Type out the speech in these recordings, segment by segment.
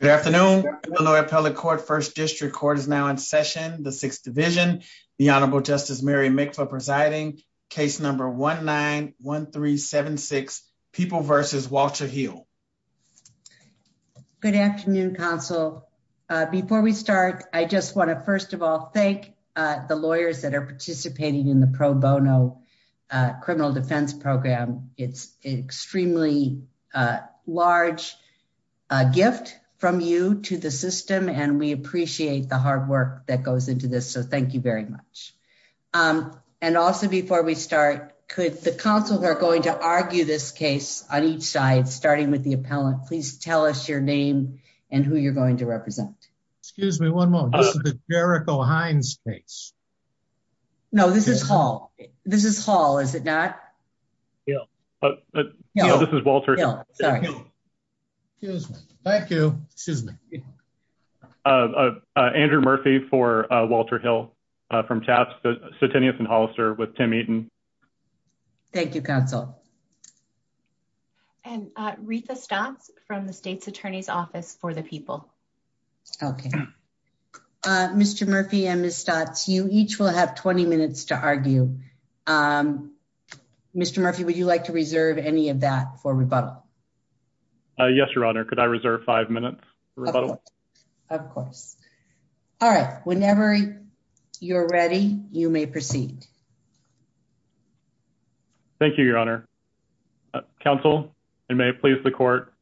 Good afternoon. The Loyal Appellate Court First District Court is now in session. The Sixth Division. The Honorable Justice Mary Mikva presiding. Case number 1-9-1-3-7-6. People versus Walter Hill. Good afternoon, counsel. Before we start, I just want to first of all thank the lawyers that are participating in the pro bono criminal defense program. It's an extremely large gift from you to the system, and we appreciate the hard work that goes into this. So thank you very much. And also, before we start, the counsels are going to argue this case on each side, starting with the appellant. Please tell us your name and who you're going to represent. Excuse me, one moment. This is the Jericho Hines case. No, this is Hall. This is Hall, is it not? Hill. Hill. Hill. This is Walter Hill. Hill. Excuse me. Thank you. Excuse me. Andrew Murphy for Walter Hill from TAPS. Sutinius and Hollister with Tim Eaton. Thank you, counsel. And Ritha Stotts from the state's attorney's office for the people. Okay. Mr. Murphy and Ms. Stotts, you each will have 20 minutes to argue. Mr. Murphy, would you like to reserve any of that for rebuttal? Yes, Your Honor. Could I reserve five minutes for rebuttal? Of course. All right. Whenever you're ready, you may proceed. Thank you, Your Honor. Counsel, and may it please the court,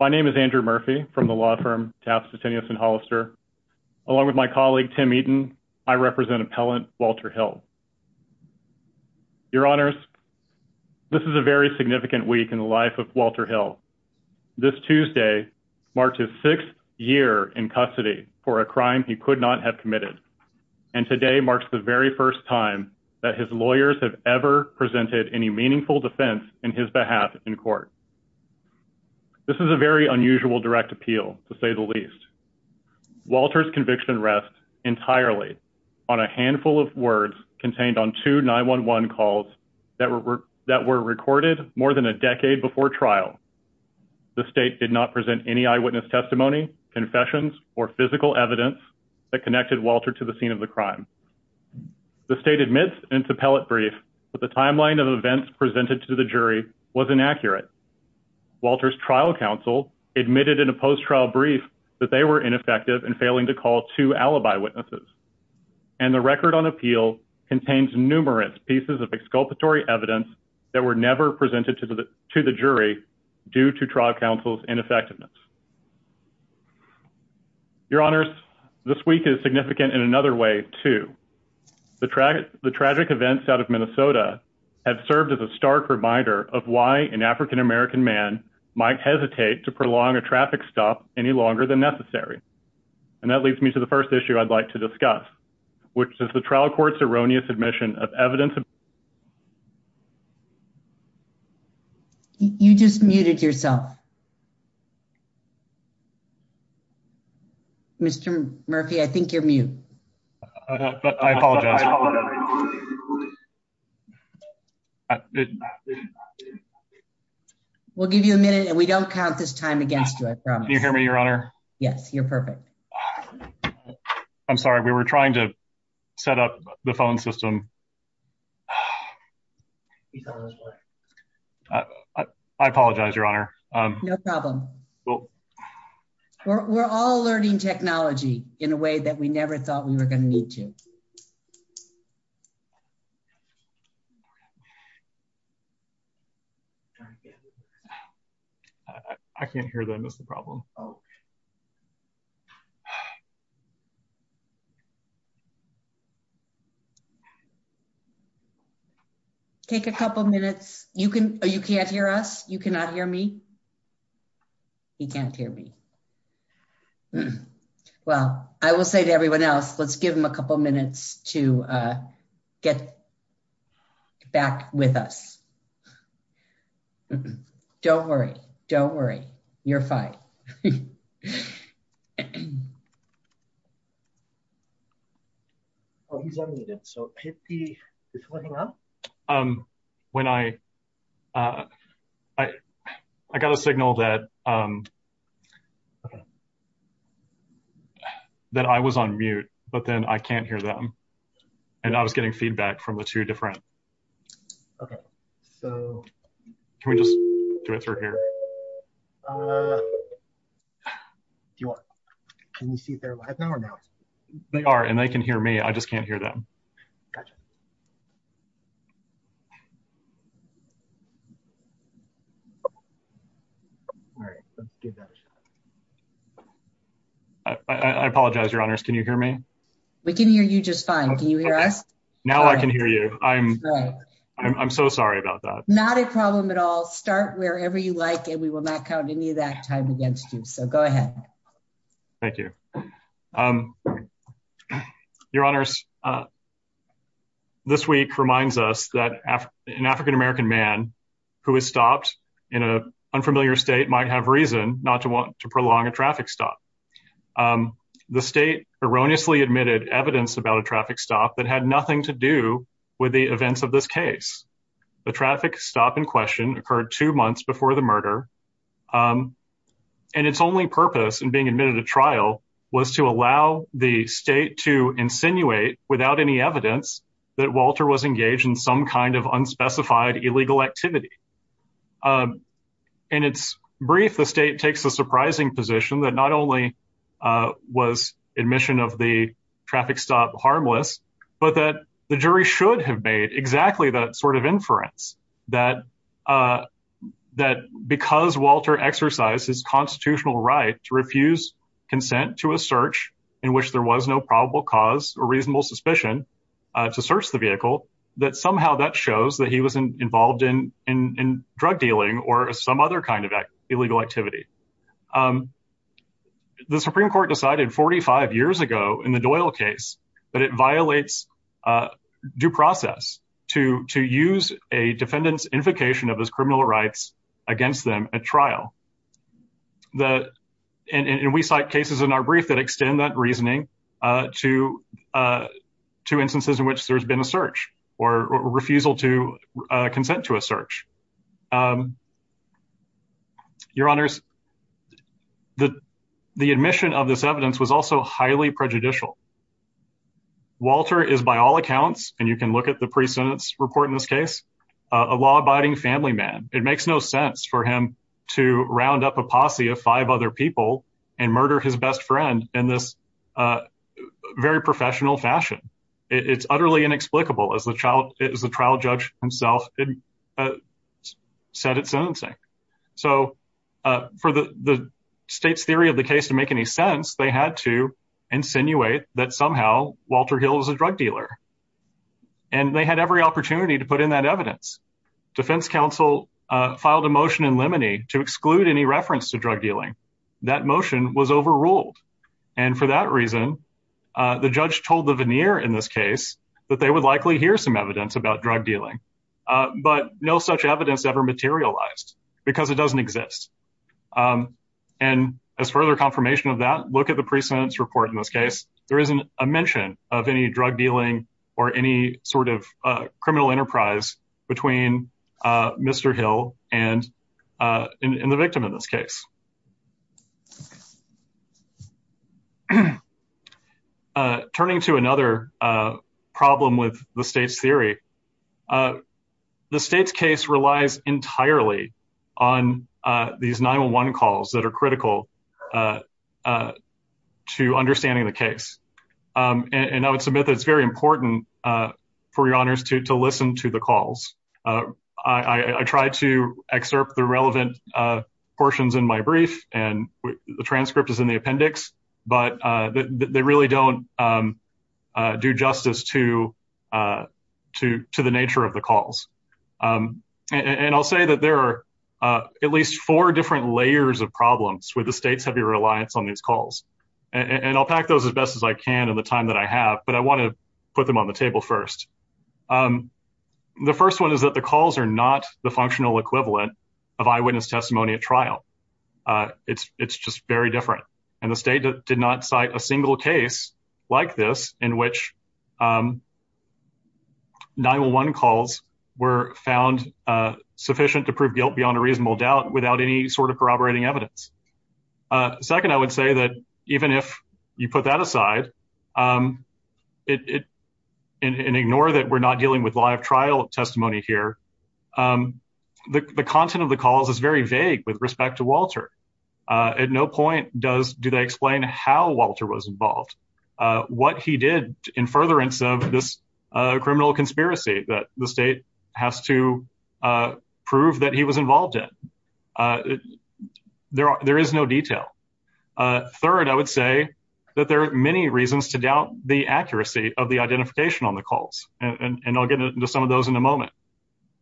my name is Andrew Murphy from the law firm TAPS Sutinius and Hollister. Along with my colleague Tim Eaton, I represent appellant Walter Hill. Your Honors, this is a very significant week in the life of Walter Hill. This Tuesday marked his sixth year in custody for a crime he could not have committed. And today marks the very first time that his lawyers have ever presented any meaningful defense in his behalf in court. This is a very unusual direct appeal, to say the least. Walter's conviction rests entirely on a handful of words contained on two 911 calls that were recorded more than a decade before trial. The state did not present any eyewitness testimony, confessions, or physical evidence that connected Walter to the scene of the crime. The state admits in its appellate brief that the timeline of events presented to the jury was inaccurate. Walter's trial counsel admitted in a post-trial brief that they were ineffective in failing to call two alibi witnesses. And the record on appeal contains numerous pieces of exculpatory evidence that were never presented to the jury due to trial counsel's ineffectiveness. Your Honors, this week is significant in another way, too. The tragic events out of Minnesota have served as a stark reminder of why an African American man might hesitate to prolong a traffic stop any longer than necessary. And that leads me to the first issue I'd like to discuss, which is the trial court's erroneous admission of evidence of You just muted yourself. Mr. Murphy, I think you're mute. We'll give you a minute and we don't count this time against you, I promise. Can you hear me, Your Honor? Yes, you're perfect. I'm sorry, we were trying to set up the phone system. I apologize, Your Honor. No problem. We're all learning technology in a way that we never thought we were going to need to. I can't hear them, that's the problem. Take a couple minutes. You can't hear us? You cannot hear me? He can't hear me. Well, I will say to everyone else, let's give him a couple minutes to get back with us. Don't worry, don't worry, you're fine. Oh, he's unmuted, so is he picking up? I got a signal that I was on mute, but then I can't hear them. And I was getting feedback from the two different... Okay, so... Can we just do it through here? Can you see if they're live now or not? They are, and they can hear me, I just can't hear them. I apologize, Your Honors, can you hear me? We can hear you just fine. Can you hear us? Now I can hear you. I'm so sorry about that. Not a problem at all. Start wherever you like, and we will not count any of that time against you, so go ahead. Thank you. Your Honors, this week reminds us that an African American man who has stopped in an unfamiliar state might have reason not to want to prolong a traffic stop. The state erroneously admitted evidence about a traffic stop that had nothing to do with the events of this case. The traffic stop in question occurred two months before the murder, and its only purpose in being admitted to trial was to allow the state to insinuate, without any evidence, that Walter was engaged in some kind of unspecified illegal activity. In its brief, the state takes the surprising position that not only was admission of the traffic stop harmless, but that the jury should have made exactly that sort of inference, that because Walter exercised his constitutional right to refuse consent to a search in which there was no probable cause or reasonable suspicion to search the vehicle, that somehow that shows that he was involved in drug dealing or some other kind of illegal activity. The Supreme Court decided 45 years ago in the Doyle case that it violates due process to use a defendant's invocation of his criminal rights against them at trial. And we cite cases in our brief that extend that reasoning to instances in which there's been a search or refusal to consent to a search. Your Honors, the admission of this evidence was also highly prejudicial. Walter is by all accounts, and you can look at the pre-sentence report in this case, a law-abiding family man. It makes no sense for him to round up a posse of five other people and murder his best friend in this very professional fashion. It's utterly inexplicable as the trial judge himself said at sentencing. So for the state's theory of the case to make any sense, they had to insinuate that somehow Walter Hill is a drug dealer. And they had every opportunity to put in that evidence. Defense counsel filed a motion in limine to exclude any reference to drug dealing. That motion was overruled. And for that reason, the judge told the veneer in this case that they would likely hear some evidence about drug dealing, but no such evidence ever materialized because it doesn't exist. And as further confirmation of that, look at the pre-sentence report in this case. There isn't a mention of any drug dealing or any sort of criminal enterprise between Mr. Hill and the victim in this case. Turning to another problem with the state's theory, the state's case relies entirely on these 9-1-1 calls that are critical to understanding the case. And I would submit that it's very important for your honors to listen to the calls. I tried to excerpt the relevant portions in my brief, and the transcript is in the appendix, but they really don't do justice to the nature of the calls. And I'll say that there are at least four different layers of problems with the state's heavy reliance on these calls. And I'll pack those as best as I can in the time that I have, but I want to put them on the table first. The first one is that the calls are not the functional equivalent of eyewitness testimony at trial. It's just very different. And the state did not cite a single case like this in which 9-1-1 calls were found sufficient to prove guilt beyond a reasonable doubt without any sort of corroborating evidence. Second, I would say that even if you put that aside and ignore that we're not dealing with live trial testimony here, the content of the calls is very vague with respect to Walter. At no point do they explain how Walter was involved, what he did in furtherance of this criminal conspiracy that the state has to prove that he was involved in. There is no detail. Third, I would say that there are many reasons to doubt the accuracy of the identification on the calls, and I'll get into some of those in a moment.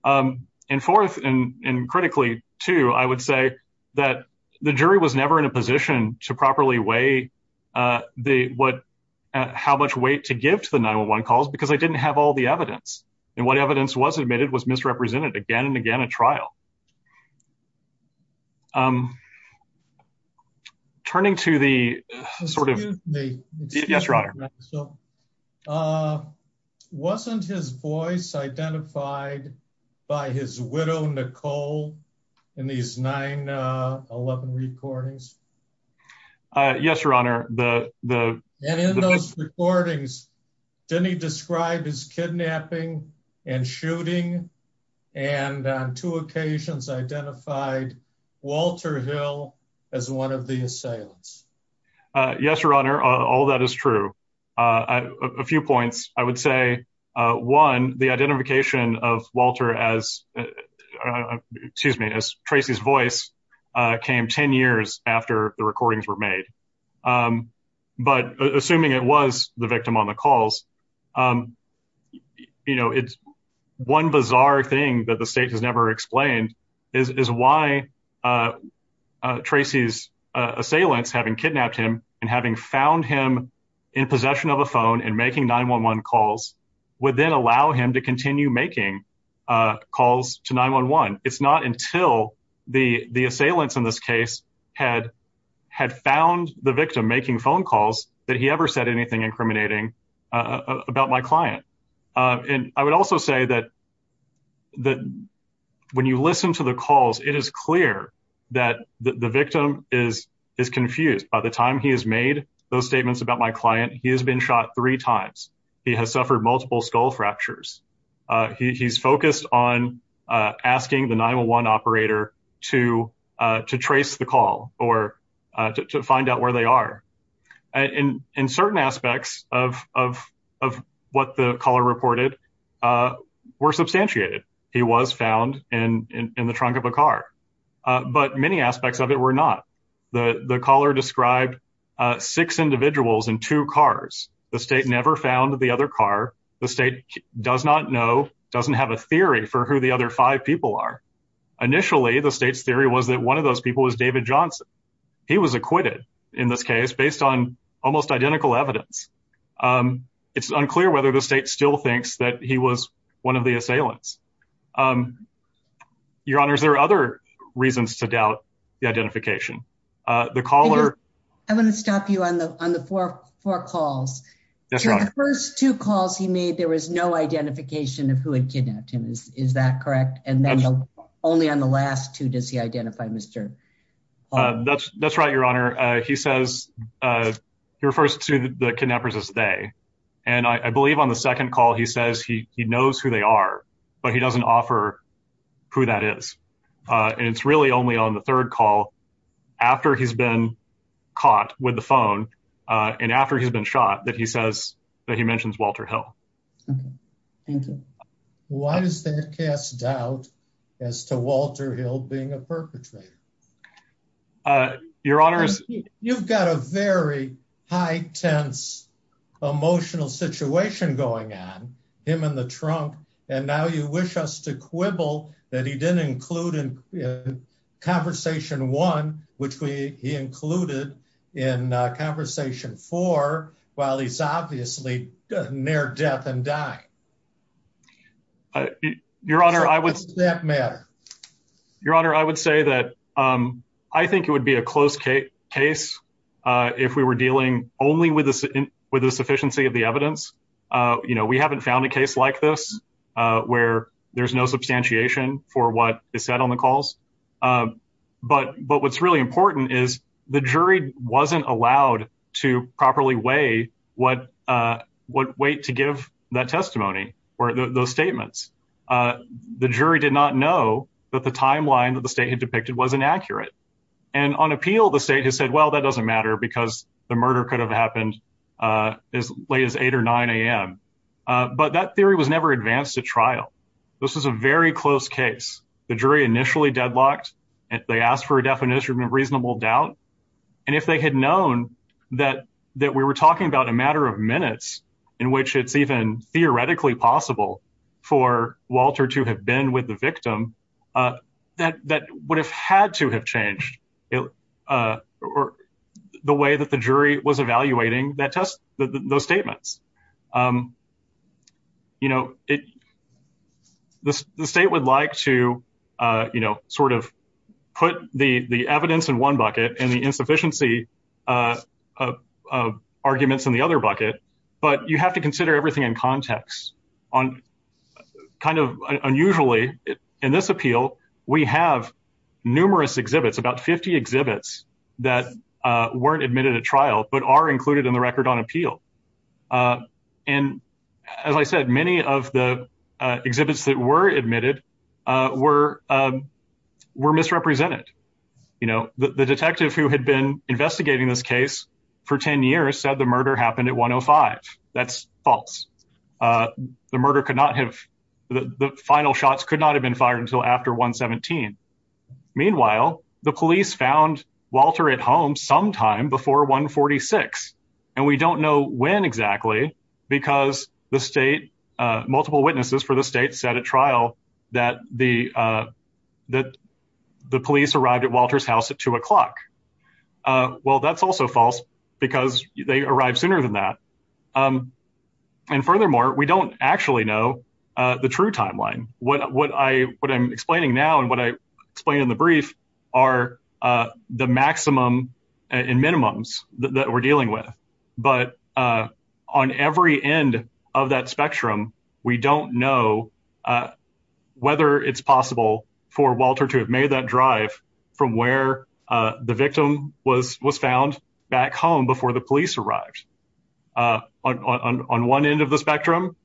And fourth, and critically too, I would say that the jury was never in a position to properly weigh how much weight to give to the 9-1-1 calls because they didn't have all the evidence. And what evidence was admitted was misrepresented again and again at trial. Turning to the sort of... Excuse me. Yes, Your Honor. Wasn't his voice identified by his widow, Nicole, in these 9-1-1 recordings? Yes, Your Honor. And in those recordings, didn't he describe his kidnapping and shooting and on two occasions identified Walter Hill as one of the assailants? Yes, Your Honor. All that is true. A few points. I would say, one, the identification of Walter as, excuse me, as Tracy's voice came 10 years after the recordings were made. But assuming it was the victim on the calls, you know, it's one bizarre thing that the state has never explained is why Tracy's assailants having kidnapped him and having found him in possession of a phone and making 9-1-1 calls would then allow him to continue making calls to 9-1-1. It's not until the assailants in this case had found the victim making phone calls that he ever said anything incriminating about my client. And I would also say that when you listen to the calls, it is clear that the victim is confused. By the time he has made those statements about my client, he has been shot three times. He has suffered multiple skull fractures. He's focused on asking the 9-1-1 operator to trace the call or to find out where they are. And certain aspects of what the caller reported were substantiated. He was found in the trunk of a car. But many aspects of it were not. The caller described six individuals in two cars. The state never found the other car. The state does not know, doesn't have a theory for who the other five people are. Initially, the state's theory was that one of those people was David Johnson. He was acquitted in this case based on almost identical evidence. It's unclear whether the state still thinks that he was one of the assailants. Your Honors, there are other reasons to doubt the identification. I want to stop you on the four calls. The first two calls he made, there was no identification of who had kidnapped him. Is that correct? And then only on the last two does he identify Mr. That's right, Your Honor. He says he refers to the kidnappers as they. And I believe on the second call, he says he knows who they are, but he doesn't offer who that is. And it's really only on the third call after he's been caught with the phone and after he's been shot that he says that he mentions Walter Hill. Why does that cast doubt as to Walter Hill being a perpetrator? Your Honors, you've got a very high tense emotional situation going on him in the trunk. And now you wish us to quibble that he didn't include in conversation one, which we included in conversation for while he's obviously near death and die. Your Honor, I would say that, Your Honor, I would say that I think it would be a close case case if we were dealing only with this with the sufficiency of the evidence. You know, we haven't found a case like this where there's no substantiation for what is said on the calls. But but what's really important is the jury wasn't allowed to properly weigh what what weight to give that testimony or those statements. The jury did not know that the timeline that the state had depicted was inaccurate. And on appeal, the state has said, well, that doesn't matter because the murder could have happened as late as eight or nine a.m. But that theory was never advanced to trial. This was a very close case. The jury initially deadlocked and they asked for a definition of reasonable doubt. And if they had known that that we were talking about a matter of minutes in which it's even theoretically possible for Walter to have been with the victim, that that would have had to have changed the way that the jury was evaluating that test, those statements. You know, the state would like to, you know, sort of put the the evidence in one bucket and the insufficiency of arguments in the other bucket. But you have to consider everything in context on kind of unusually in this appeal. We have numerous exhibits, about 50 exhibits that weren't admitted to trial, but are included in the record on appeal. And as I said, many of the exhibits that were admitted were were misrepresented. You know, the detective who had been investigating this case for 10 years said the murder happened at 105. That's false. The murder could not have the final shots could not have been fired until after 117. Meanwhile, the police found Walter at home sometime before 146. And we don't know when exactly because the state multiple witnesses for the state set a trial that the that the police arrived at Walter's house at two o'clock. Well, that's also false because they arrived sooner than that. And furthermore, we don't actually know the true timeline. What I what I'm explaining now and what I explained in the brief are the maximum and minimums that we're dealing with, but on every end of that spectrum. We don't know Whether it's possible for Walter to have made that drive from where the victim was was found back home before the police arrived on one end of the spectrum.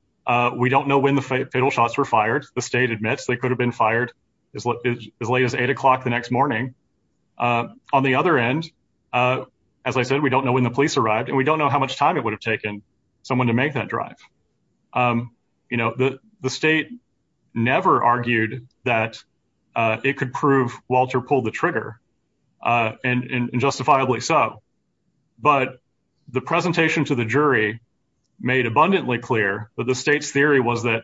We don't know when the fatal shots were fired. The state admits they could have been fired as late as eight o'clock the next morning. On the other end, as I said, we don't know when the police arrived and we don't know how much time it would have taken someone to make that drive. You know the the state never argued that it could prove Walter pull the trigger and justifiably so. But the presentation to the jury made abundantly clear that the state's theory was that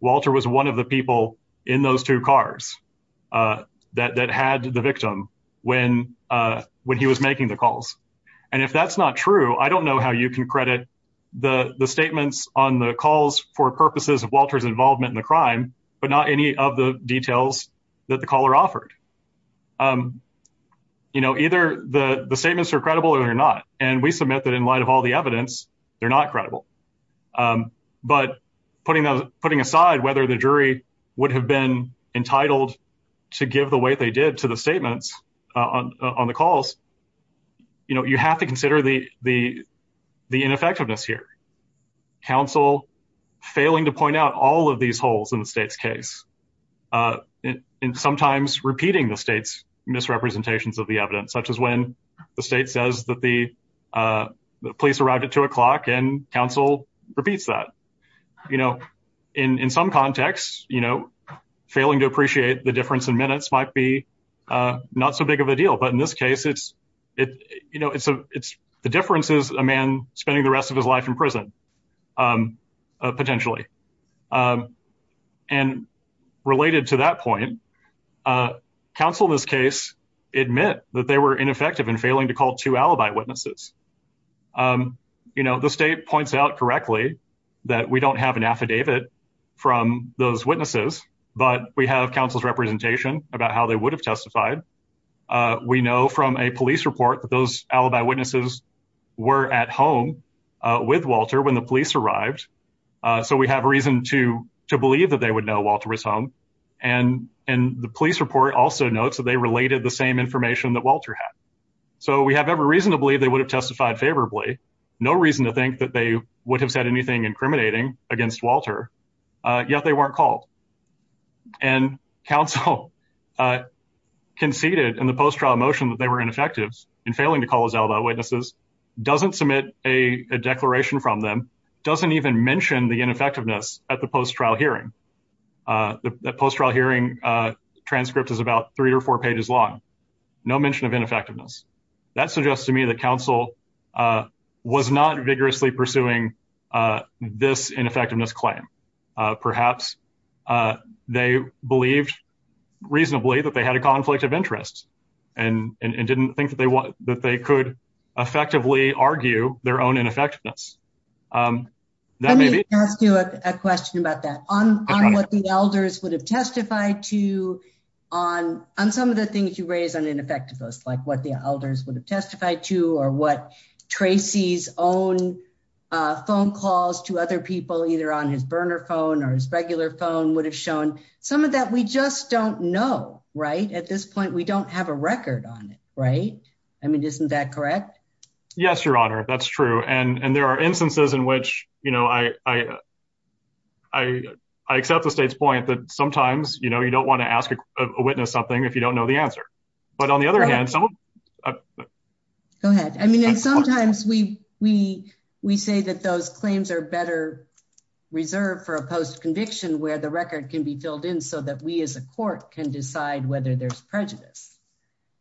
Walter was one of the people in those two cars. That that had the victim when when he was making the calls. And if that's not true. I don't know how you can credit the the statements on the calls for purposes of Walters involvement in the crime, but not any of the details that the caller offered You know, either the statements are credible or not. And we submit that in light of all the evidence. They're not credible. But putting those putting aside whether the jury would have been entitled to give the way they did to the statements on the calls. You know, you have to consider the the the ineffectiveness here counsel failing to point out all of these holes in the state's case. And sometimes repeating the state's misrepresentations of the evidence, such as when the state says that the Police arrived at two o'clock and counsel repeats that, you know, in some contexts, you know, failing to appreciate the difference in minutes might be not so big of a deal. But in this case, it's it, you know, it's a it's the difference is a man spending the rest of his life in prison. Potentially And related to that point. Council this case admit that they were ineffective and failing to call to alibi witnesses. You know, the state points out correctly that we don't have an affidavit from those witnesses, but we have councils representation about how they would have testified We know from a police report that those alibi witnesses were at home with Walter when the police arrived. So we have a reason to to believe that they would know Walter was home and and the police report also notes that they related the same information that Walter had So we have every reason to believe they would have testified favorably no reason to think that they would have said anything incriminating against Walter, yet they weren't called And counsel. Conceded in the post trial motion that they were ineffectives and failing to call his alibi witnesses doesn't submit a declaration from them doesn't even mention the ineffectiveness at the post trial hearing The post trial hearing transcript is about three or four pages long. No mention of ineffectiveness that suggests to me that counsel. Was not vigorously pursuing this ineffectiveness claim perhaps They believed reasonably that they had a conflict of interest and and didn't think that they want that they could effectively argue their own ineffectiveness. Maybe ask you a question about that on what the elders would have testified to on on some of the things you raise an ineffectiveness, like what the elders would have testified to or what Tracy's own Phone calls to other people, either on his burner phone or his regular phone would have shown some of that we just don't know right at this point, we don't have a record on it. Right. I mean, isn't that correct. Yes, Your Honor. That's true. And there are instances in which, you know, I I accept the state's point that sometimes, you know, you don't want to ask a witness something if you don't know the answer. But on the other hand, Go ahead. I mean, sometimes we we we say that those claims are better reserved for a post conviction, where the record can be filled in so that we as a court can decide whether there's prejudice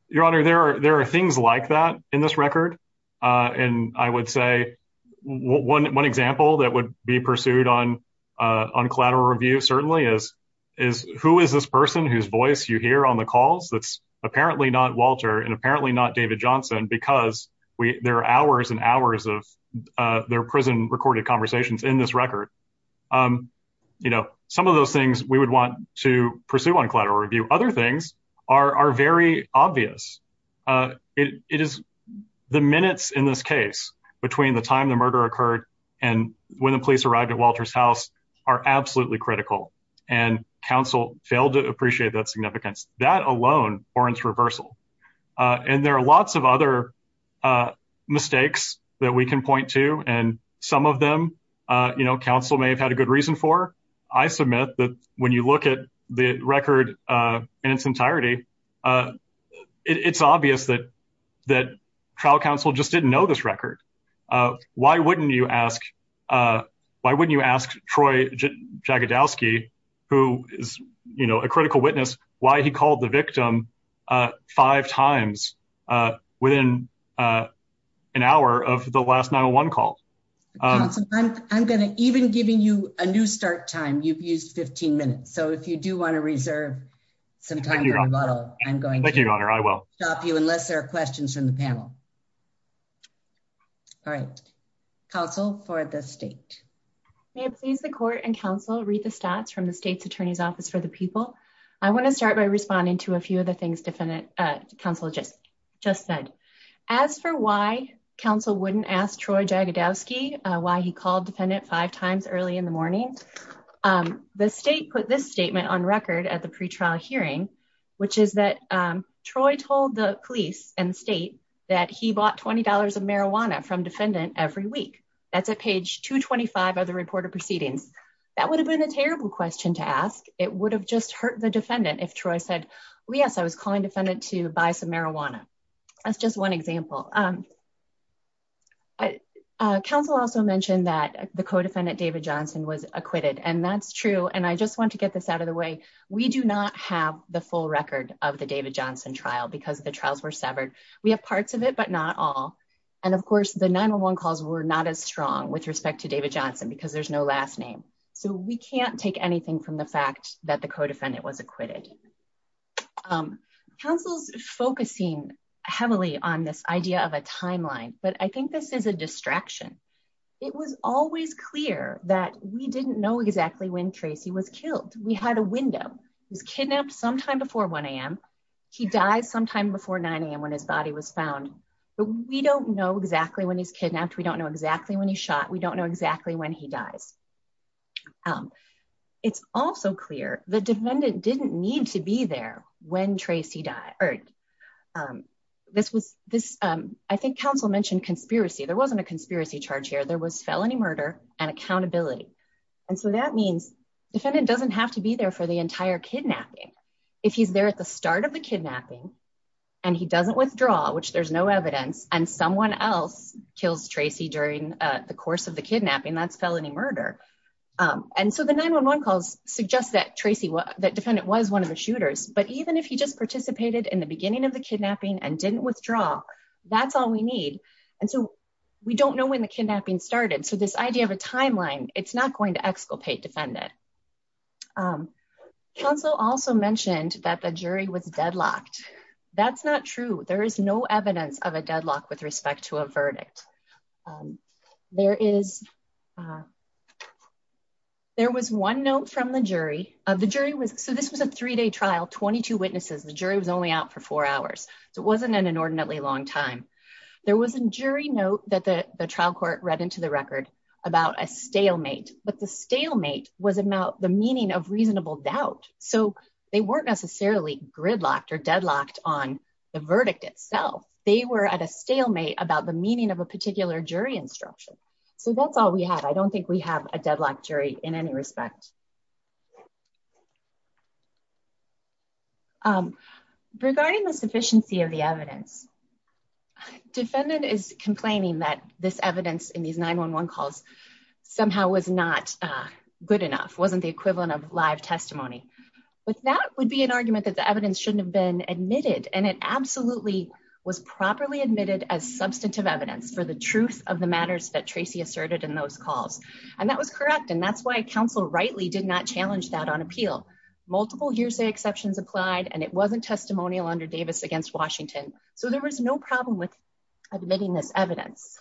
Your Honor, there are there are things like that in this record. And I would say one one example that would be pursued on On collateral review certainly is is who is this person whose voice you hear on the calls that's apparently not Walter and apparently not David Johnson, because we there are hours and hours of their prison recorded conversations in this record. You know, some of those things we would want to pursue on collateral review. Other things are very obvious. It is the minutes in this case between the time the murder occurred and when the police arrived at Walter's house are absolutely critical and counsel failed to appreciate that significance that alone or it's reversal. And there are lots of other Mistakes that we can point to. And some of them, you know, counsel may have had a good reason for I submit that when you look at the record in its entirety. It's obvious that that trial counsel just didn't know this record. Why wouldn't you ask Why wouldn't you ask Troy Jagadowski, who is, you know, a critical witness why he called the victim five times within An hour of the last 911 call I'm going to even giving you a new start time you've used 15 minutes. So if you do want to reserve Some time. I'm going to honor. I will Stop you unless there are questions from the panel. All right, counsel for the state. May it please the court and counsel read the stats from the state's attorney's office for the people. I want to start by responding to a few of the things different Council just just said, as for why counsel wouldn't ask Troy Jagadowski why he called defendant five times early in the morning. The state put this statement on record at the pre trial hearing, which is that Troy told the police and state that he bought $20 of marijuana from defendant every week. That's a page 225 of the report of proceedings. That would have been a terrible question to ask. It would have just hurt the defendant. If Troy said, yes, I was calling defendant to buy some marijuana. That's just one example. I counsel also mentioned that the co defendant, David Johnson was acquitted. And that's true. And I just want to get this out of the way. We do not have the full record of the David Johnson trial because the trials were severed. We have parts of it, but not all And of course the 911 calls were not as strong with respect to David Johnson, because there's no last name. So we can't take anything from the fact that the co defendant was acquitted. Counsel's focusing heavily on this idea of a timeline, but I think this is a distraction. It was always clear that we didn't know exactly when Tracy was killed. We had a window. He was kidnapped sometime before 1am. He died sometime before 9am when his body was found, but we don't know exactly when he's kidnapped. We don't know exactly when he shot. We don't know exactly when he dies. It's also clear the defendant didn't need to be there when Tracy died. This was this. I think counsel mentioned conspiracy. There wasn't a conspiracy charge here. There was felony murder and accountability. And so that means defendant doesn't have to be there for the entire kidnapping. If he's there at the start of the kidnapping and he doesn't withdraw, which there's no evidence and someone else kills Tracy during the course of the kidnapping, that's felony murder. And so the 911 calls suggest that Tracy that defendant was one of the shooters. But even if he just participated in the beginning of the kidnapping and didn't withdraw. That's all we need. And so we don't know when the kidnapping started. So this idea of a timeline, it's not going to exculpate defendant. Counsel also mentioned that the jury was deadlocked. That's not true. There is no evidence of a deadlock with respect to a verdict. There was one note from the jury. So this was a three day trial, 22 witnesses. The jury was only out for four hours. So it wasn't an inordinately long time. There was a jury note that the trial court read into the record about a stalemate. But the stalemate was about the meaning of reasonable doubt. So they weren't necessarily gridlocked or deadlocked on the verdict itself. They were at a stalemate about the meaning of a particular jury instruction. So that's all we have. I don't think we have a deadlock jury in any respect. Regarding the sufficiency of the evidence, defendant is complaining that this evidence in these 911 calls somehow was not good enough, wasn't the equivalent of live testimony. But that would be an argument that the evidence shouldn't have been admitted. And it absolutely was properly admitted as substantive evidence for the truth of the matters that Tracy asserted in those calls. And that was correct. And that's why counsel rightly did not challenge that on appeal. Multiple hearsay exceptions applied and it wasn't testimonial under Davis against Washington. So there was no problem with admitting this evidence.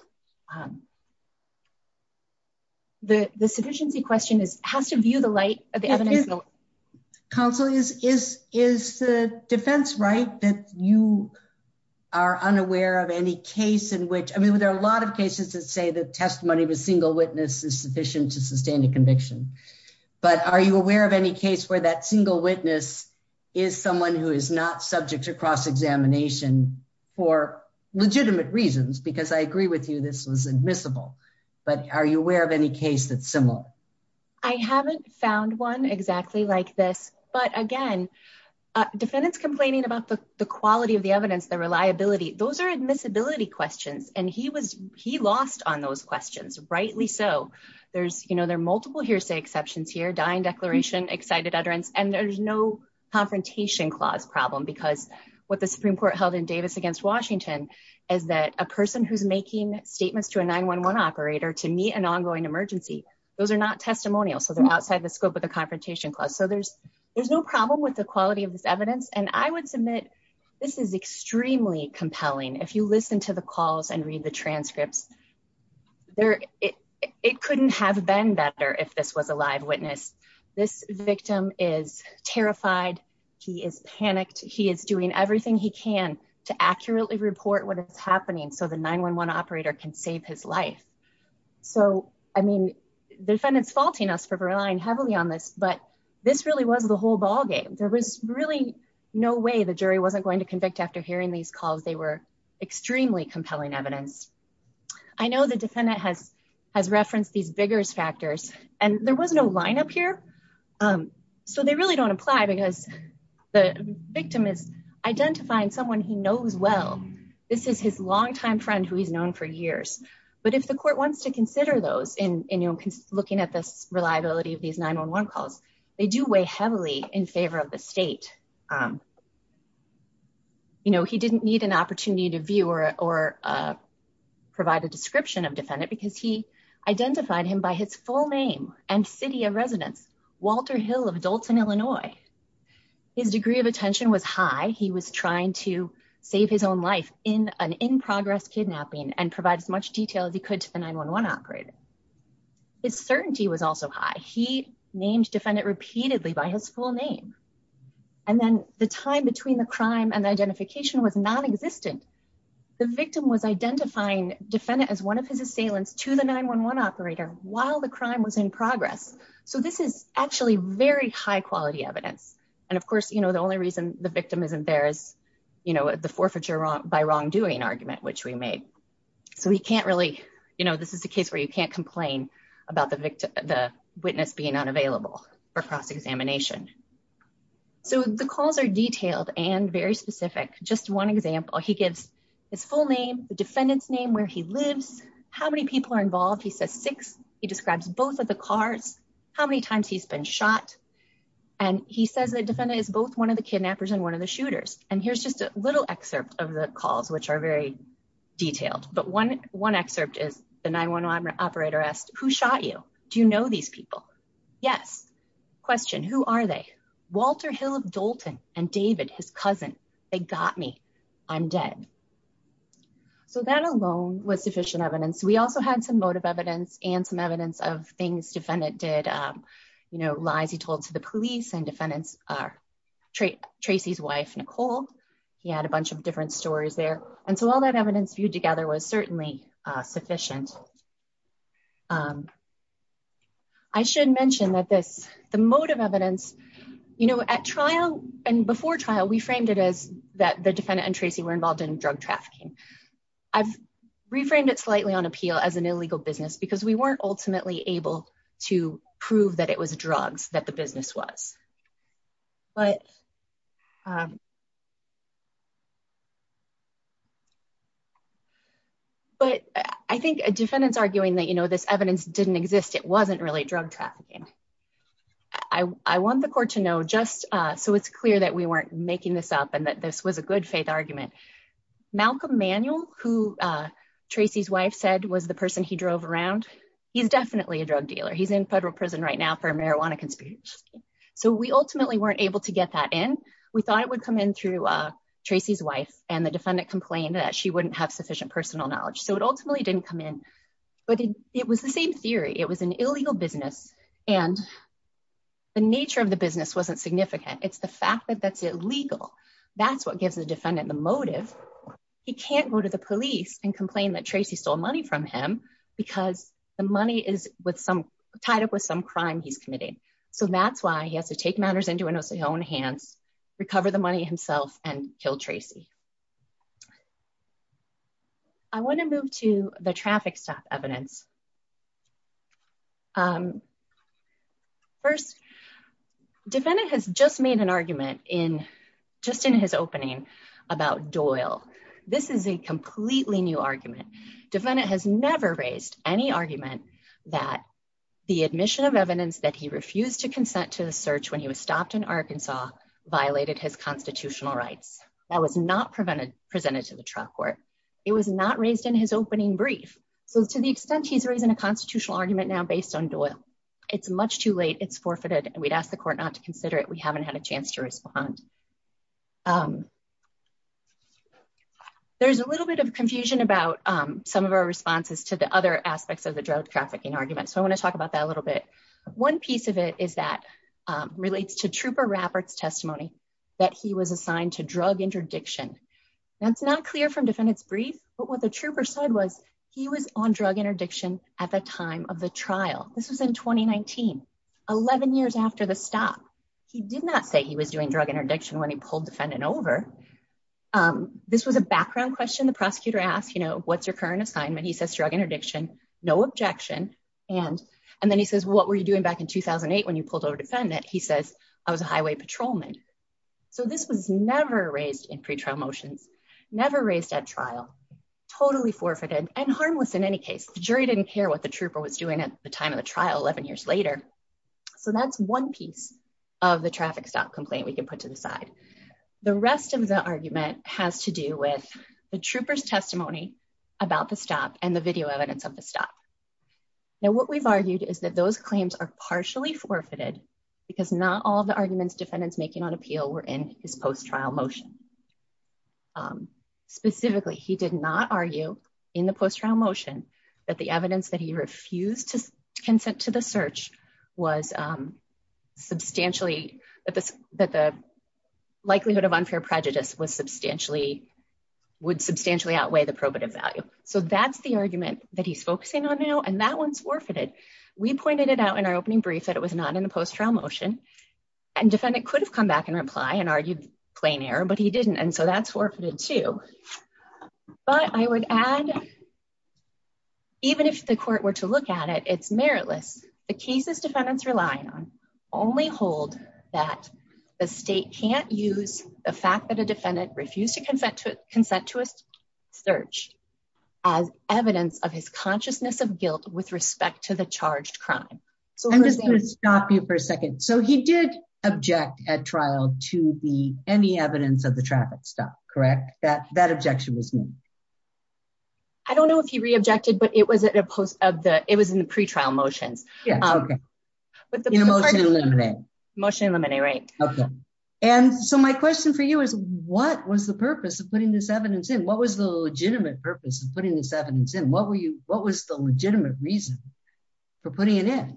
The sufficiency question is has to view the light of the evidence. Counsel is is is the defense right that you are unaware of any case in which I mean there are a lot of cases that say the testimony of a single witness is sufficient to sustain a conviction. But are you aware of any case where that single witness is someone who is not subject to cross examination for legitimate reasons? Because I agree with you, this was admissible. But are you aware of any case that's similar? I haven't found one exactly like this. But again, defendants complaining about the quality of the evidence, the reliability, those are admissibility questions. And he was he lost on those questions, rightly so. There's, you know, there are multiple hearsay exceptions here, dying declaration, excited utterance, and there's no confrontation clause problem because what the Supreme Court held in Davis against Washington, is that a person who's making statements to a 911 operator to meet an ongoing emergency, those are not testimonial. So they're outside the scope of the confrontation clause. So there's, there's no problem with the quality of this evidence. And I would submit, this is extremely compelling. If you listen to the calls and read the transcripts, there, it couldn't have been better if this was a live witness. This victim is terrified, he is panicked, he is doing everything he can to accurately report what is happening. So the 911 operator can save his life. So, I mean, defendants faulting us for relying heavily on this, but this really was the whole ballgame. There was really no way the jury wasn't going to convict after hearing these calls, they were extremely compelling evidence. I know the defendant has, has referenced these vigorous factors, and there was no lineup here. So they really don't apply because the victim is identifying someone he knows well. This is his longtime friend who he's known for years. But if the court wants to consider those in looking at this reliability of these 911 calls, they do weigh heavily in favor of the state. You know, he didn't need an opportunity to view or provide a description of defendant because he identified him by his full name and city of residence, Walter Hill of Dalton, Illinois. His degree of attention was high. He was trying to save his own life in an in-progress kidnapping and provide as much detail as he could to the 911 operator. His certainty was also high. He named defendant repeatedly by his full name. And then the time between the crime and identification was nonexistent. The victim was identifying defendant as one of his assailants to the 911 operator while the crime was in progress. So this is actually very high quality evidence. And of course, you know, the only reason the victim isn't there is, you know, the forfeiture by wrongdoing argument, which we made. So we can't really, you know, this is a case where you can't complain about the witness being unavailable for cross-examination. So the calls are detailed and very specific. Just one example, he gives his full name, the defendant's name, where he lives, how many people are involved. He says six. He describes both of the cars, how many times he's been shot. And he says the defendant is both one of the kidnappers and one of the shooters. And here's just a little excerpt of the calls, which are very detailed. But one excerpt is the 911 operator asked, who shot you? Do you know these people? Yes. Question, who are they? Walter Hill of Doulton and David, his cousin. They got me. I'm dead. So that alone was sufficient evidence. We also had some motive evidence and some evidence of things defendant did, you know, lies he told to the police and defendants are Tracy's wife, Nicole. He had a bunch of different stories there. And so all that evidence viewed together was certainly sufficient. I should mention that this, the motive evidence, you know, at trial and before trial, we framed it as that the defendant and Tracy were involved in drug trafficking. I've reframed it slightly on appeal as an illegal business because we weren't ultimately able to prove that it was drugs that the business was. But. But I think a defendant's arguing that, you know, this evidence didn't exist, it wasn't really drug trafficking. I want the court to know just so it's clear that we weren't making this up and that this was a good faith argument. Malcolm Manuel, who Tracy's wife said, was the person he drove around. He's definitely a drug dealer. He's in federal prison right now for a marijuana conspiracy. So we ultimately weren't able to get that in. We thought it would come in through Tracy's wife and the defendant complained that she wouldn't have sufficient personal knowledge. So it ultimately didn't come in. But it was the same theory. It was an illegal business. And the nature of the business wasn't significant. It's the fact that that's illegal. That's what gives the defendant the motive. He can't go to the police and complain that Tracy stole money from him because the money is with some tied up with some crime he's committing. And that's why he has to take matters into his own hands, recover the money himself and kill Tracy. I want to move to the traffic stop evidence. First, defendant has just made an argument in just in his opening about Doyle. This is a completely new argument. Defendant has never raised any argument that the admission of evidence that he refused to consent to the search when he was stopped in Arkansas violated his constitutional rights. That was not presented to the trial court. It was not raised in his opening brief. So to the extent he's raising a constitutional argument now based on Doyle, it's much too late. It's forfeited. We'd ask the court not to consider it. We haven't had a chance to respond. There's a little bit of confusion about some of our responses to the other aspects of the drug trafficking argument. So I want to talk about that a little bit. One piece of it is that relates to Trooper Rappert's testimony that he was assigned to drug interdiction. That's not clear from defendant's brief. But what the trooper said was he was on drug interdiction at the time of the trial. This was in 2019, 11 years after the stop. He did not say he was doing drug interdiction when he pulled defendant over. This was a background question. The prosecutor asked, you know, what's your current assignment? He says drug interdiction, no objection. And then he says, what were you doing back in 2008 when you pulled over defendant? He says, I was a highway patrolman. So this was never raised in pre-trial motions, never raised at trial, totally forfeited and harmless in any case. The jury didn't care what the trooper was doing at the time of the trial 11 years later. So that's one piece of the traffic stop complaint we can put to the side. The rest of the argument has to do with the trooper's testimony about the stop and the video evidence of the stop. Now, what we've argued is that those claims are partially forfeited because not all the arguments defendants making on appeal were in his post-trial motion. Specifically, he did not argue in the post-trial motion that the evidence that he refused to consent to the search was substantially that the likelihood of unfair prejudice was substantially would substantially outweigh the probative value. So that's the argument that he's focusing on now. And that one's forfeited. We pointed it out in our opening brief that it was not in the post-trial motion and defendant could have come back and reply and argued plain error, but he didn't. And so that's forfeited too. But I would add, even if the court were to look at it, it's meritless. The cases defendants rely on only hold that the state can't use the fact that a defendant refused to consent to a search as evidence of his consciousness of guilt with respect to the charged crime. I'm just going to stop you for a second. So he did object at trial to be any evidence of the traffic stop, correct? That objection was made? I don't know if he re-objected, but it was in the pre-trial motions. In a motion to eliminate. Motion to eliminate, right. And so my question for you is, what was the purpose of putting this evidence in? What was the legitimate purpose of putting this evidence in? What was the legitimate reason for putting it in?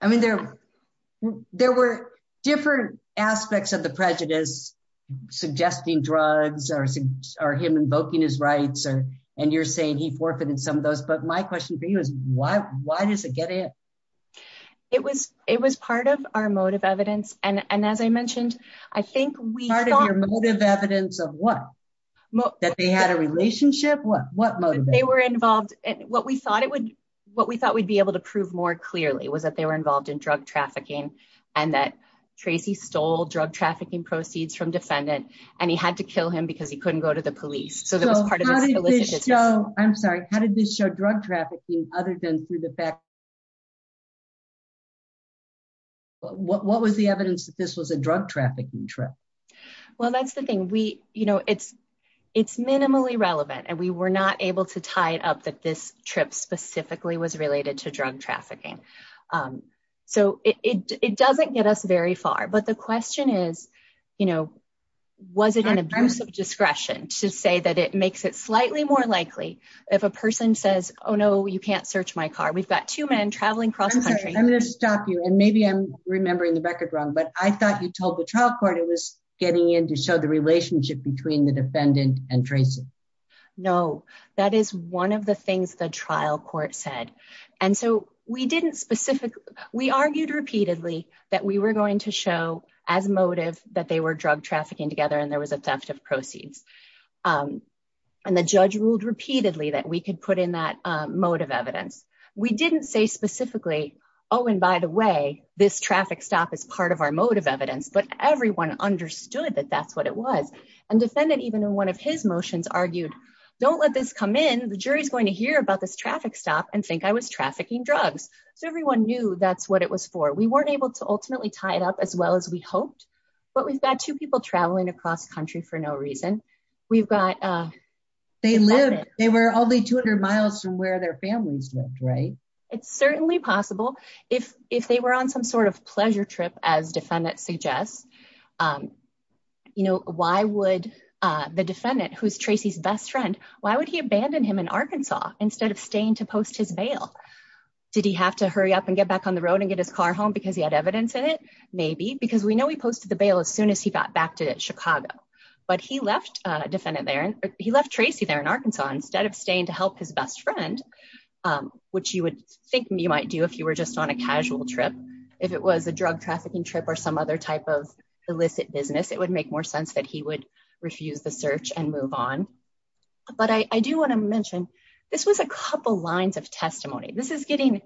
I mean, there were different aspects of the prejudice, suggesting drugs or him invoking his rights, and you're saying he forfeited some of those. But my question for you is, why does it get in? It was part of our motive evidence. And as I mentioned, I think we thought… Part of your motive evidence of what? That they had a relationship? What motive? They were involved. What we thought we'd be able to prove more clearly was that they were involved in drug trafficking, and that Tracy stole drug trafficking proceeds from defendant, and he had to kill him because he couldn't go to the police. I'm sorry, how did this show drug trafficking other than through the fact… What was the evidence that this was a drug trafficking trip? Well, that's the thing. We, you know, it's minimally relevant, and we were not able to tie it up that this trip specifically was related to drug trafficking. So it doesn't get us very far. But the question is, you know, was it an abuse of discretion to say that it makes it slightly more likely if a person says, oh, no, you can't search my car. We've got two men traveling across the country. I'm going to stop you, and maybe I'm remembering the record wrong, but I thought you told the trial court it was getting in to show the relationship between the defendant and Tracy. No, that is one of the things the trial court said. And so we didn't specifically… We argued repeatedly that we were going to show as motive that they were drug trafficking together and there was a theft of proceeds. And the judge ruled repeatedly that we could put in that motive evidence. We didn't say specifically, oh, and by the way, this traffic stop is part of our motive evidence, but everyone understood that that's what it was. And defendant, even in one of his motions, argued, don't let this come in. The jury is going to hear about this traffic stop and think I was trafficking drugs. So everyone knew that's what it was for. We weren't able to ultimately tie it up as well as we hoped, but we've got two people traveling across country for no reason. We've got… They lived. They were only 200 miles from where their families lived, right? It's certainly possible. If they were on some sort of pleasure trip, as defendant suggests, you know, why would the defendant, who's Tracy's best friend, why would he abandon him in Arkansas instead of staying to post his bail? Did he have to hurry up and get back on the road and get his car home because he had evidence in it? Maybe, because we know he posted the bail as soon as he got back to Chicago, but he left Tracy there in Arkansas instead of staying to help his best friend, which you would think you might do if you were just on a casual trip. If it was a drug trafficking trip or some other type of illicit business, it would make more sense that he would refuse the search and move on. But I do want to mention, this was a couple lines of testimony. This is getting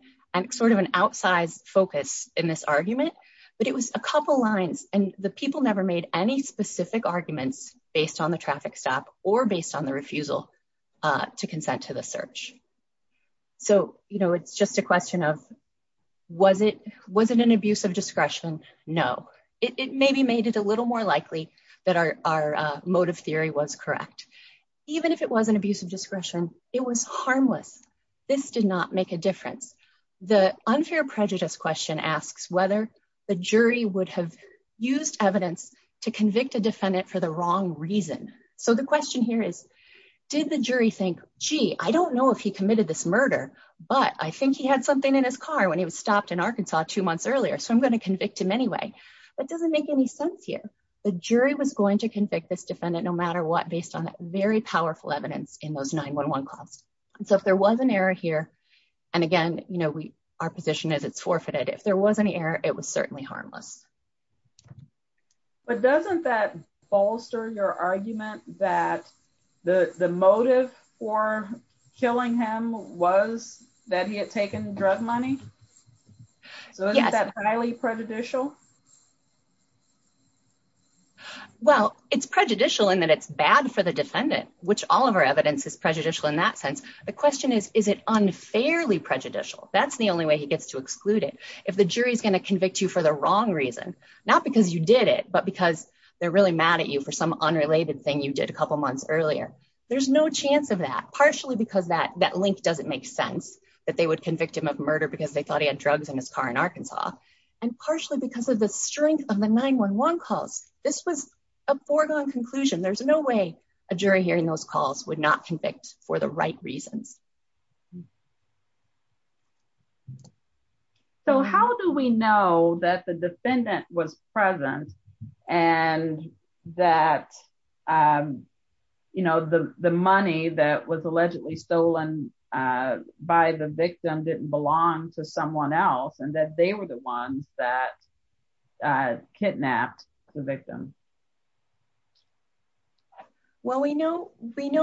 sort of an outsized focus in this argument, but it was a couple lines, and the people never made any specific arguments based on the traffic stop or based on the refusal to consent to the search. So, you know, it's just a question of, was it an abuse of discretion? No. It maybe made it a little more likely that our motive theory was correct. Even if it was an abuse of discretion, it was harmless. This did not make a difference. The unfair prejudice question asks whether the jury would have used evidence to convict a defendant for the wrong reason. So the question here is, did the jury think, gee, I don't know if he committed this murder, but I think he had something in his car when he was stopped in Arkansas two months earlier, so I'm going to convict him anyway. That doesn't make any sense here. The jury was going to convict this defendant no matter what, based on very powerful evidence in those 911 calls. So if there was an error here, and again, you know, our position is it's forfeited. If there was any error, it was certainly harmless. But doesn't that bolster your argument that the motive for killing him was that he had taken drug money? So isn't that highly prejudicial? Well, it's prejudicial in that it's bad for the defendant, which all of our evidence is prejudicial in that sense. The question is, is it unfairly prejudicial? That's the only way he gets to exclude it. If the jury is going to convict you for the wrong reason, not because you did it, but because they're really mad at you for some unrelated thing you did a couple months earlier, there's no chance of that, partially because that link doesn't make sense, that they would convict him of murder because they thought he had drugs in his car in Arkansas, and partially because of the strength of the 911 calls. This was a foregone conclusion. There's no way a jury hearing those calls would not convict for the right reasons. How do we know that the defendant was present and that the money that was allegedly stolen by the victim didn't belong to someone else and that they were the ones that kidnapped the victim? Well, we know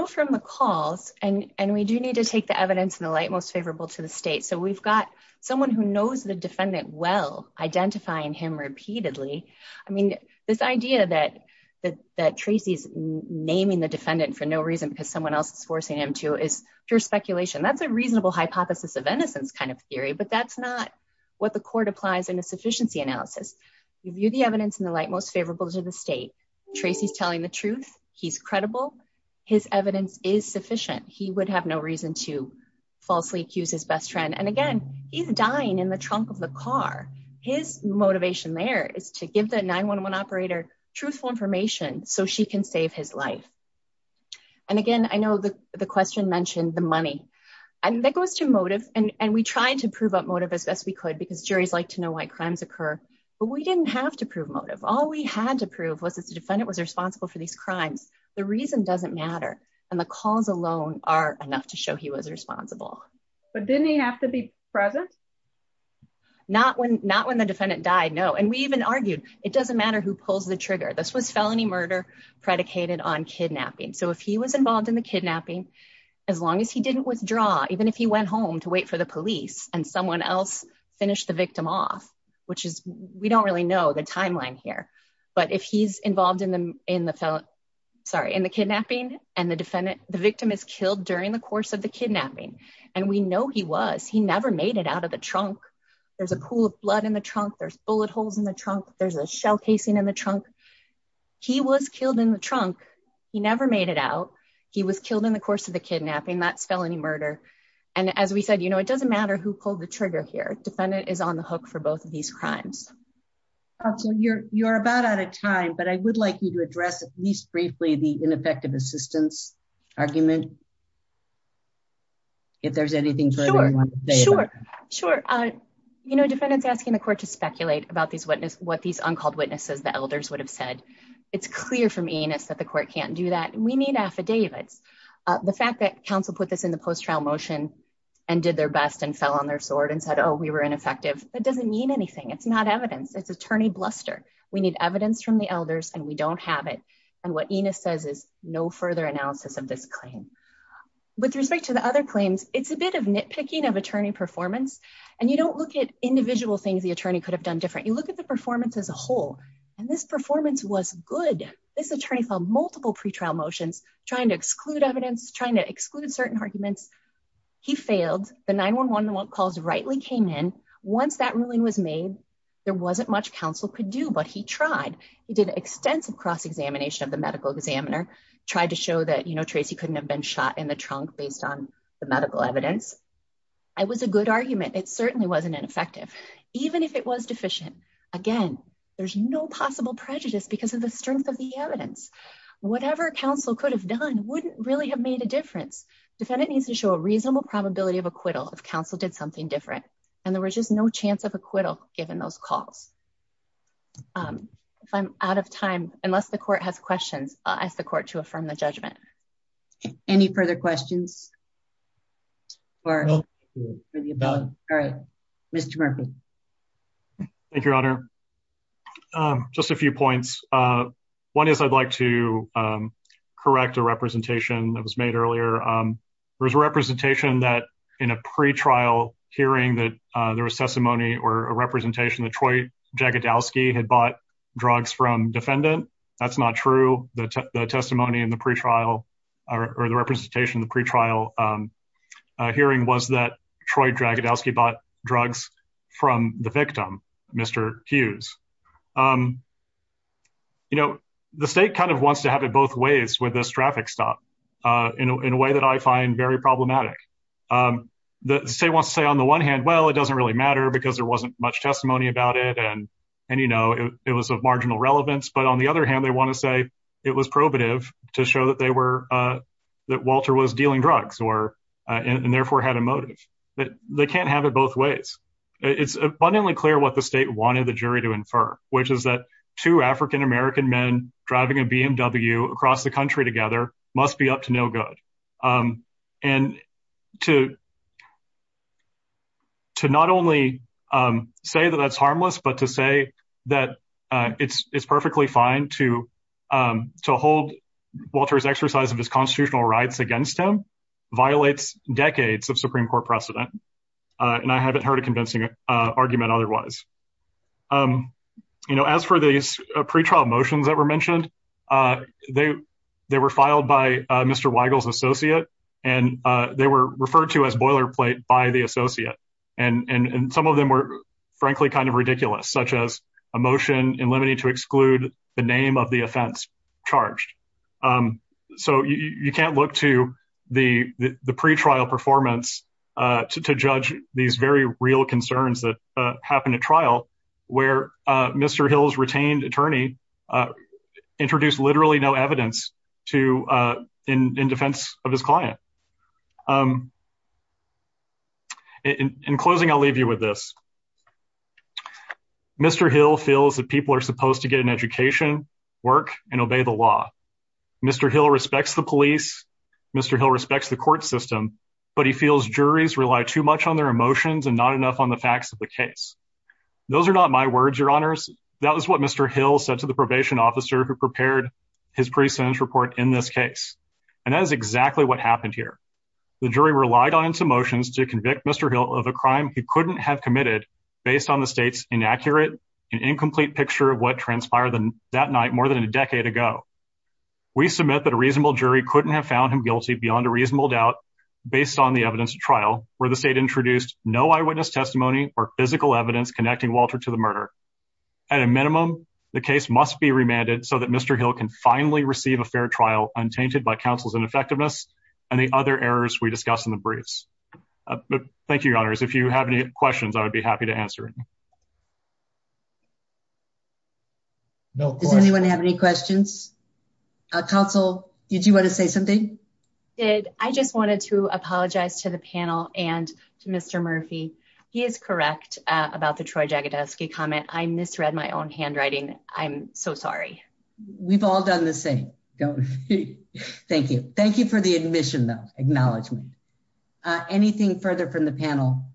from the calls, and we do need to take the evidence in the light most favorable to the state. So we've got someone who knows the defendant well, identifying him repeatedly. I mean, this idea that Tracy's naming the defendant for no reason because someone else is forcing him to is pure speculation. That's a reasonable hypothesis of innocence kind of theory, but that's not what the court applies in a sufficiency analysis. We view the evidence in the light most favorable to the state. Tracy's telling the truth. He's credible. His evidence is sufficient. He would have no reason to falsely accuse his best friend. And again, he's dying in the trunk of the car. His motivation there is to give the 911 operator truthful information so she can save his life. And again, I know the question mentioned the money, and that goes to motive, and we tried to prove up motive as best we could because juries like to know why crimes occur, but we didn't have to prove motive. All we had to prove was that the defendant was responsible for these crimes. The reason doesn't matter, and the calls alone are enough to show he was responsible. But didn't he have to be present? Not when the defendant died, no. And we even argued, it doesn't matter who pulls the trigger. This was felony murder predicated on kidnapping. So if he was involved in the kidnapping, as long as he didn't withdraw, even if he went home to wait for the police and someone else finished the victim off, which is, we don't really know the timeline here. But if he's involved in the kidnapping, and the victim is killed during the course of the kidnapping, and we know he was, he never made it out of the trunk. There's a pool of blood in the trunk, there's bullet holes in the trunk, there's a shell casing in the trunk. He was killed in the trunk. He never made it out. He was killed in the course of the kidnapping. That's felony murder. And as we said, you know, it doesn't matter who pulled the trigger here. Defendant is on the hook for both of these crimes. You're, you're about out of time, but I would like you to address at least briefly the ineffective assistance argument. If there's anything. Sure, sure. You know, defendants asking the court to speculate about these witnesses, what these uncalled witnesses, the elders would have said. It's clear from anus that the court can't do that. We need affidavits. The fact that counsel put this in the post trial motion and did their best and fell on their sword and said, oh, we were ineffective. It doesn't mean anything. It's not evidence. It's attorney bluster. We need evidence from the elders and we don't have it. And what Enos says is no further analysis of this claim. With respect to the other claims, it's a bit of nitpicking of attorney performance. And you don't look at individual things the attorney could have done different. You look at the performance as a whole, and this performance was good. This attorney felt multiple pretrial motions, trying to exclude evidence, trying to exclude certain arguments. He failed the 911 calls rightly came in. Once that ruling was made, there wasn't much counsel could do, but he tried. He did extensive cross examination of the medical examiner, tried to show that, you know, Tracy couldn't have been shot in the trunk based on the medical evidence. It was a good argument. It certainly wasn't ineffective, even if it was deficient. Again, there's no possible prejudice because of the strength of the evidence. Whatever counsel could have done wouldn't really have made a difference. Defendant needs to show a reasonable probability of acquittal if counsel did something different. And there was just no chance of acquittal given those calls. If I'm out of time, unless the court has questions, I'll ask the court to affirm the judgment. Any further questions? All right, Mr. Murphy. Thank you, Your Honor. Just a few points. One is I'd like to correct a representation that was made earlier. There was a representation that in a pretrial hearing that there was testimony or a representation that Troy Jagadowski had bought drugs from defendant. That's not true. The testimony in the pretrial or the representation in the pretrial hearing was that Troy Jagadowski bought drugs from the victim, Mr. Hughes. You know, the state kind of wants to have it both ways with this traffic stop in a way that I find very problematic. The state wants to say on the one hand, well, it doesn't really matter because there wasn't much testimony about it. And, you know, it was of marginal relevance. But on the other hand, they want to say it was probative to show that Walter was dealing drugs and therefore had a motive. They can't have it both ways. It's abundantly clear what the state wanted the jury to infer, which is that two African-American men driving a BMW across the country together must be up to no good. And to not only say that that's harmless, but to say that it's perfectly fine to hold Walter's exercise of his constitutional rights against him violates decades of Supreme Court precedent. And I haven't heard a convincing argument otherwise. You know, as for these pretrial motions that were mentioned, they were filed by Mr. Weigel's associate and they were referred to as boilerplate by the associate. And some of them were frankly kind of ridiculous, such as a motion in limine to exclude the name of the offense charged. So you can't look to the pretrial performance to judge these very real concerns that happened at trial where Mr. Hill's retained attorney introduced literally no evidence in defense of his client. In closing, I'll leave you with this. Mr. Hill feels that people are supposed to get an education, work, and obey the law. Mr. Hill respects the police. Mr. Hill respects the court system, but he feels juries rely too much on their emotions and not enough on the facts of the case. Those are not my words, your honors. That was what Mr. Hill said to the probation officer who prepared his pre-sentence report in this case. And that is exactly what happened here. The jury relied on its emotions to convict Mr. Hill of a crime he couldn't have committed based on the state's inaccurate and incomplete picture of what transpired that night more than a decade ago. We submit that a reasonable jury couldn't have found him guilty beyond a reasonable doubt based on the evidence of trial where the state introduced no eyewitness testimony or physical evidence connecting Walter to the murder. At a minimum, the case must be remanded so that Mr. Hill can finally receive a fair trial untainted by counsel's ineffectiveness and the other errors we discussed in the briefs. Thank you, your honors. If you have any questions, I would be happy to answer them. Does anyone have any questions? Counsel, did you want to say something? I did. I just wanted to apologize to the panel and to Mr. Murphy. He is correct about the Troy Jagodowski comment. I misread my own handwriting. I'm so sorry. We've all done the same, don't we? Thank you. Thank you for the admission, though. Acknowledgement. Anything further from the panel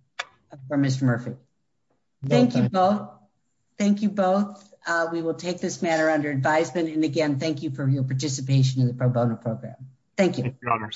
for Mr. Murphy? Thank you both. Thank you both. We will take this matter under advisement. And again, thank you for your participation in the pro bono program. Thank you.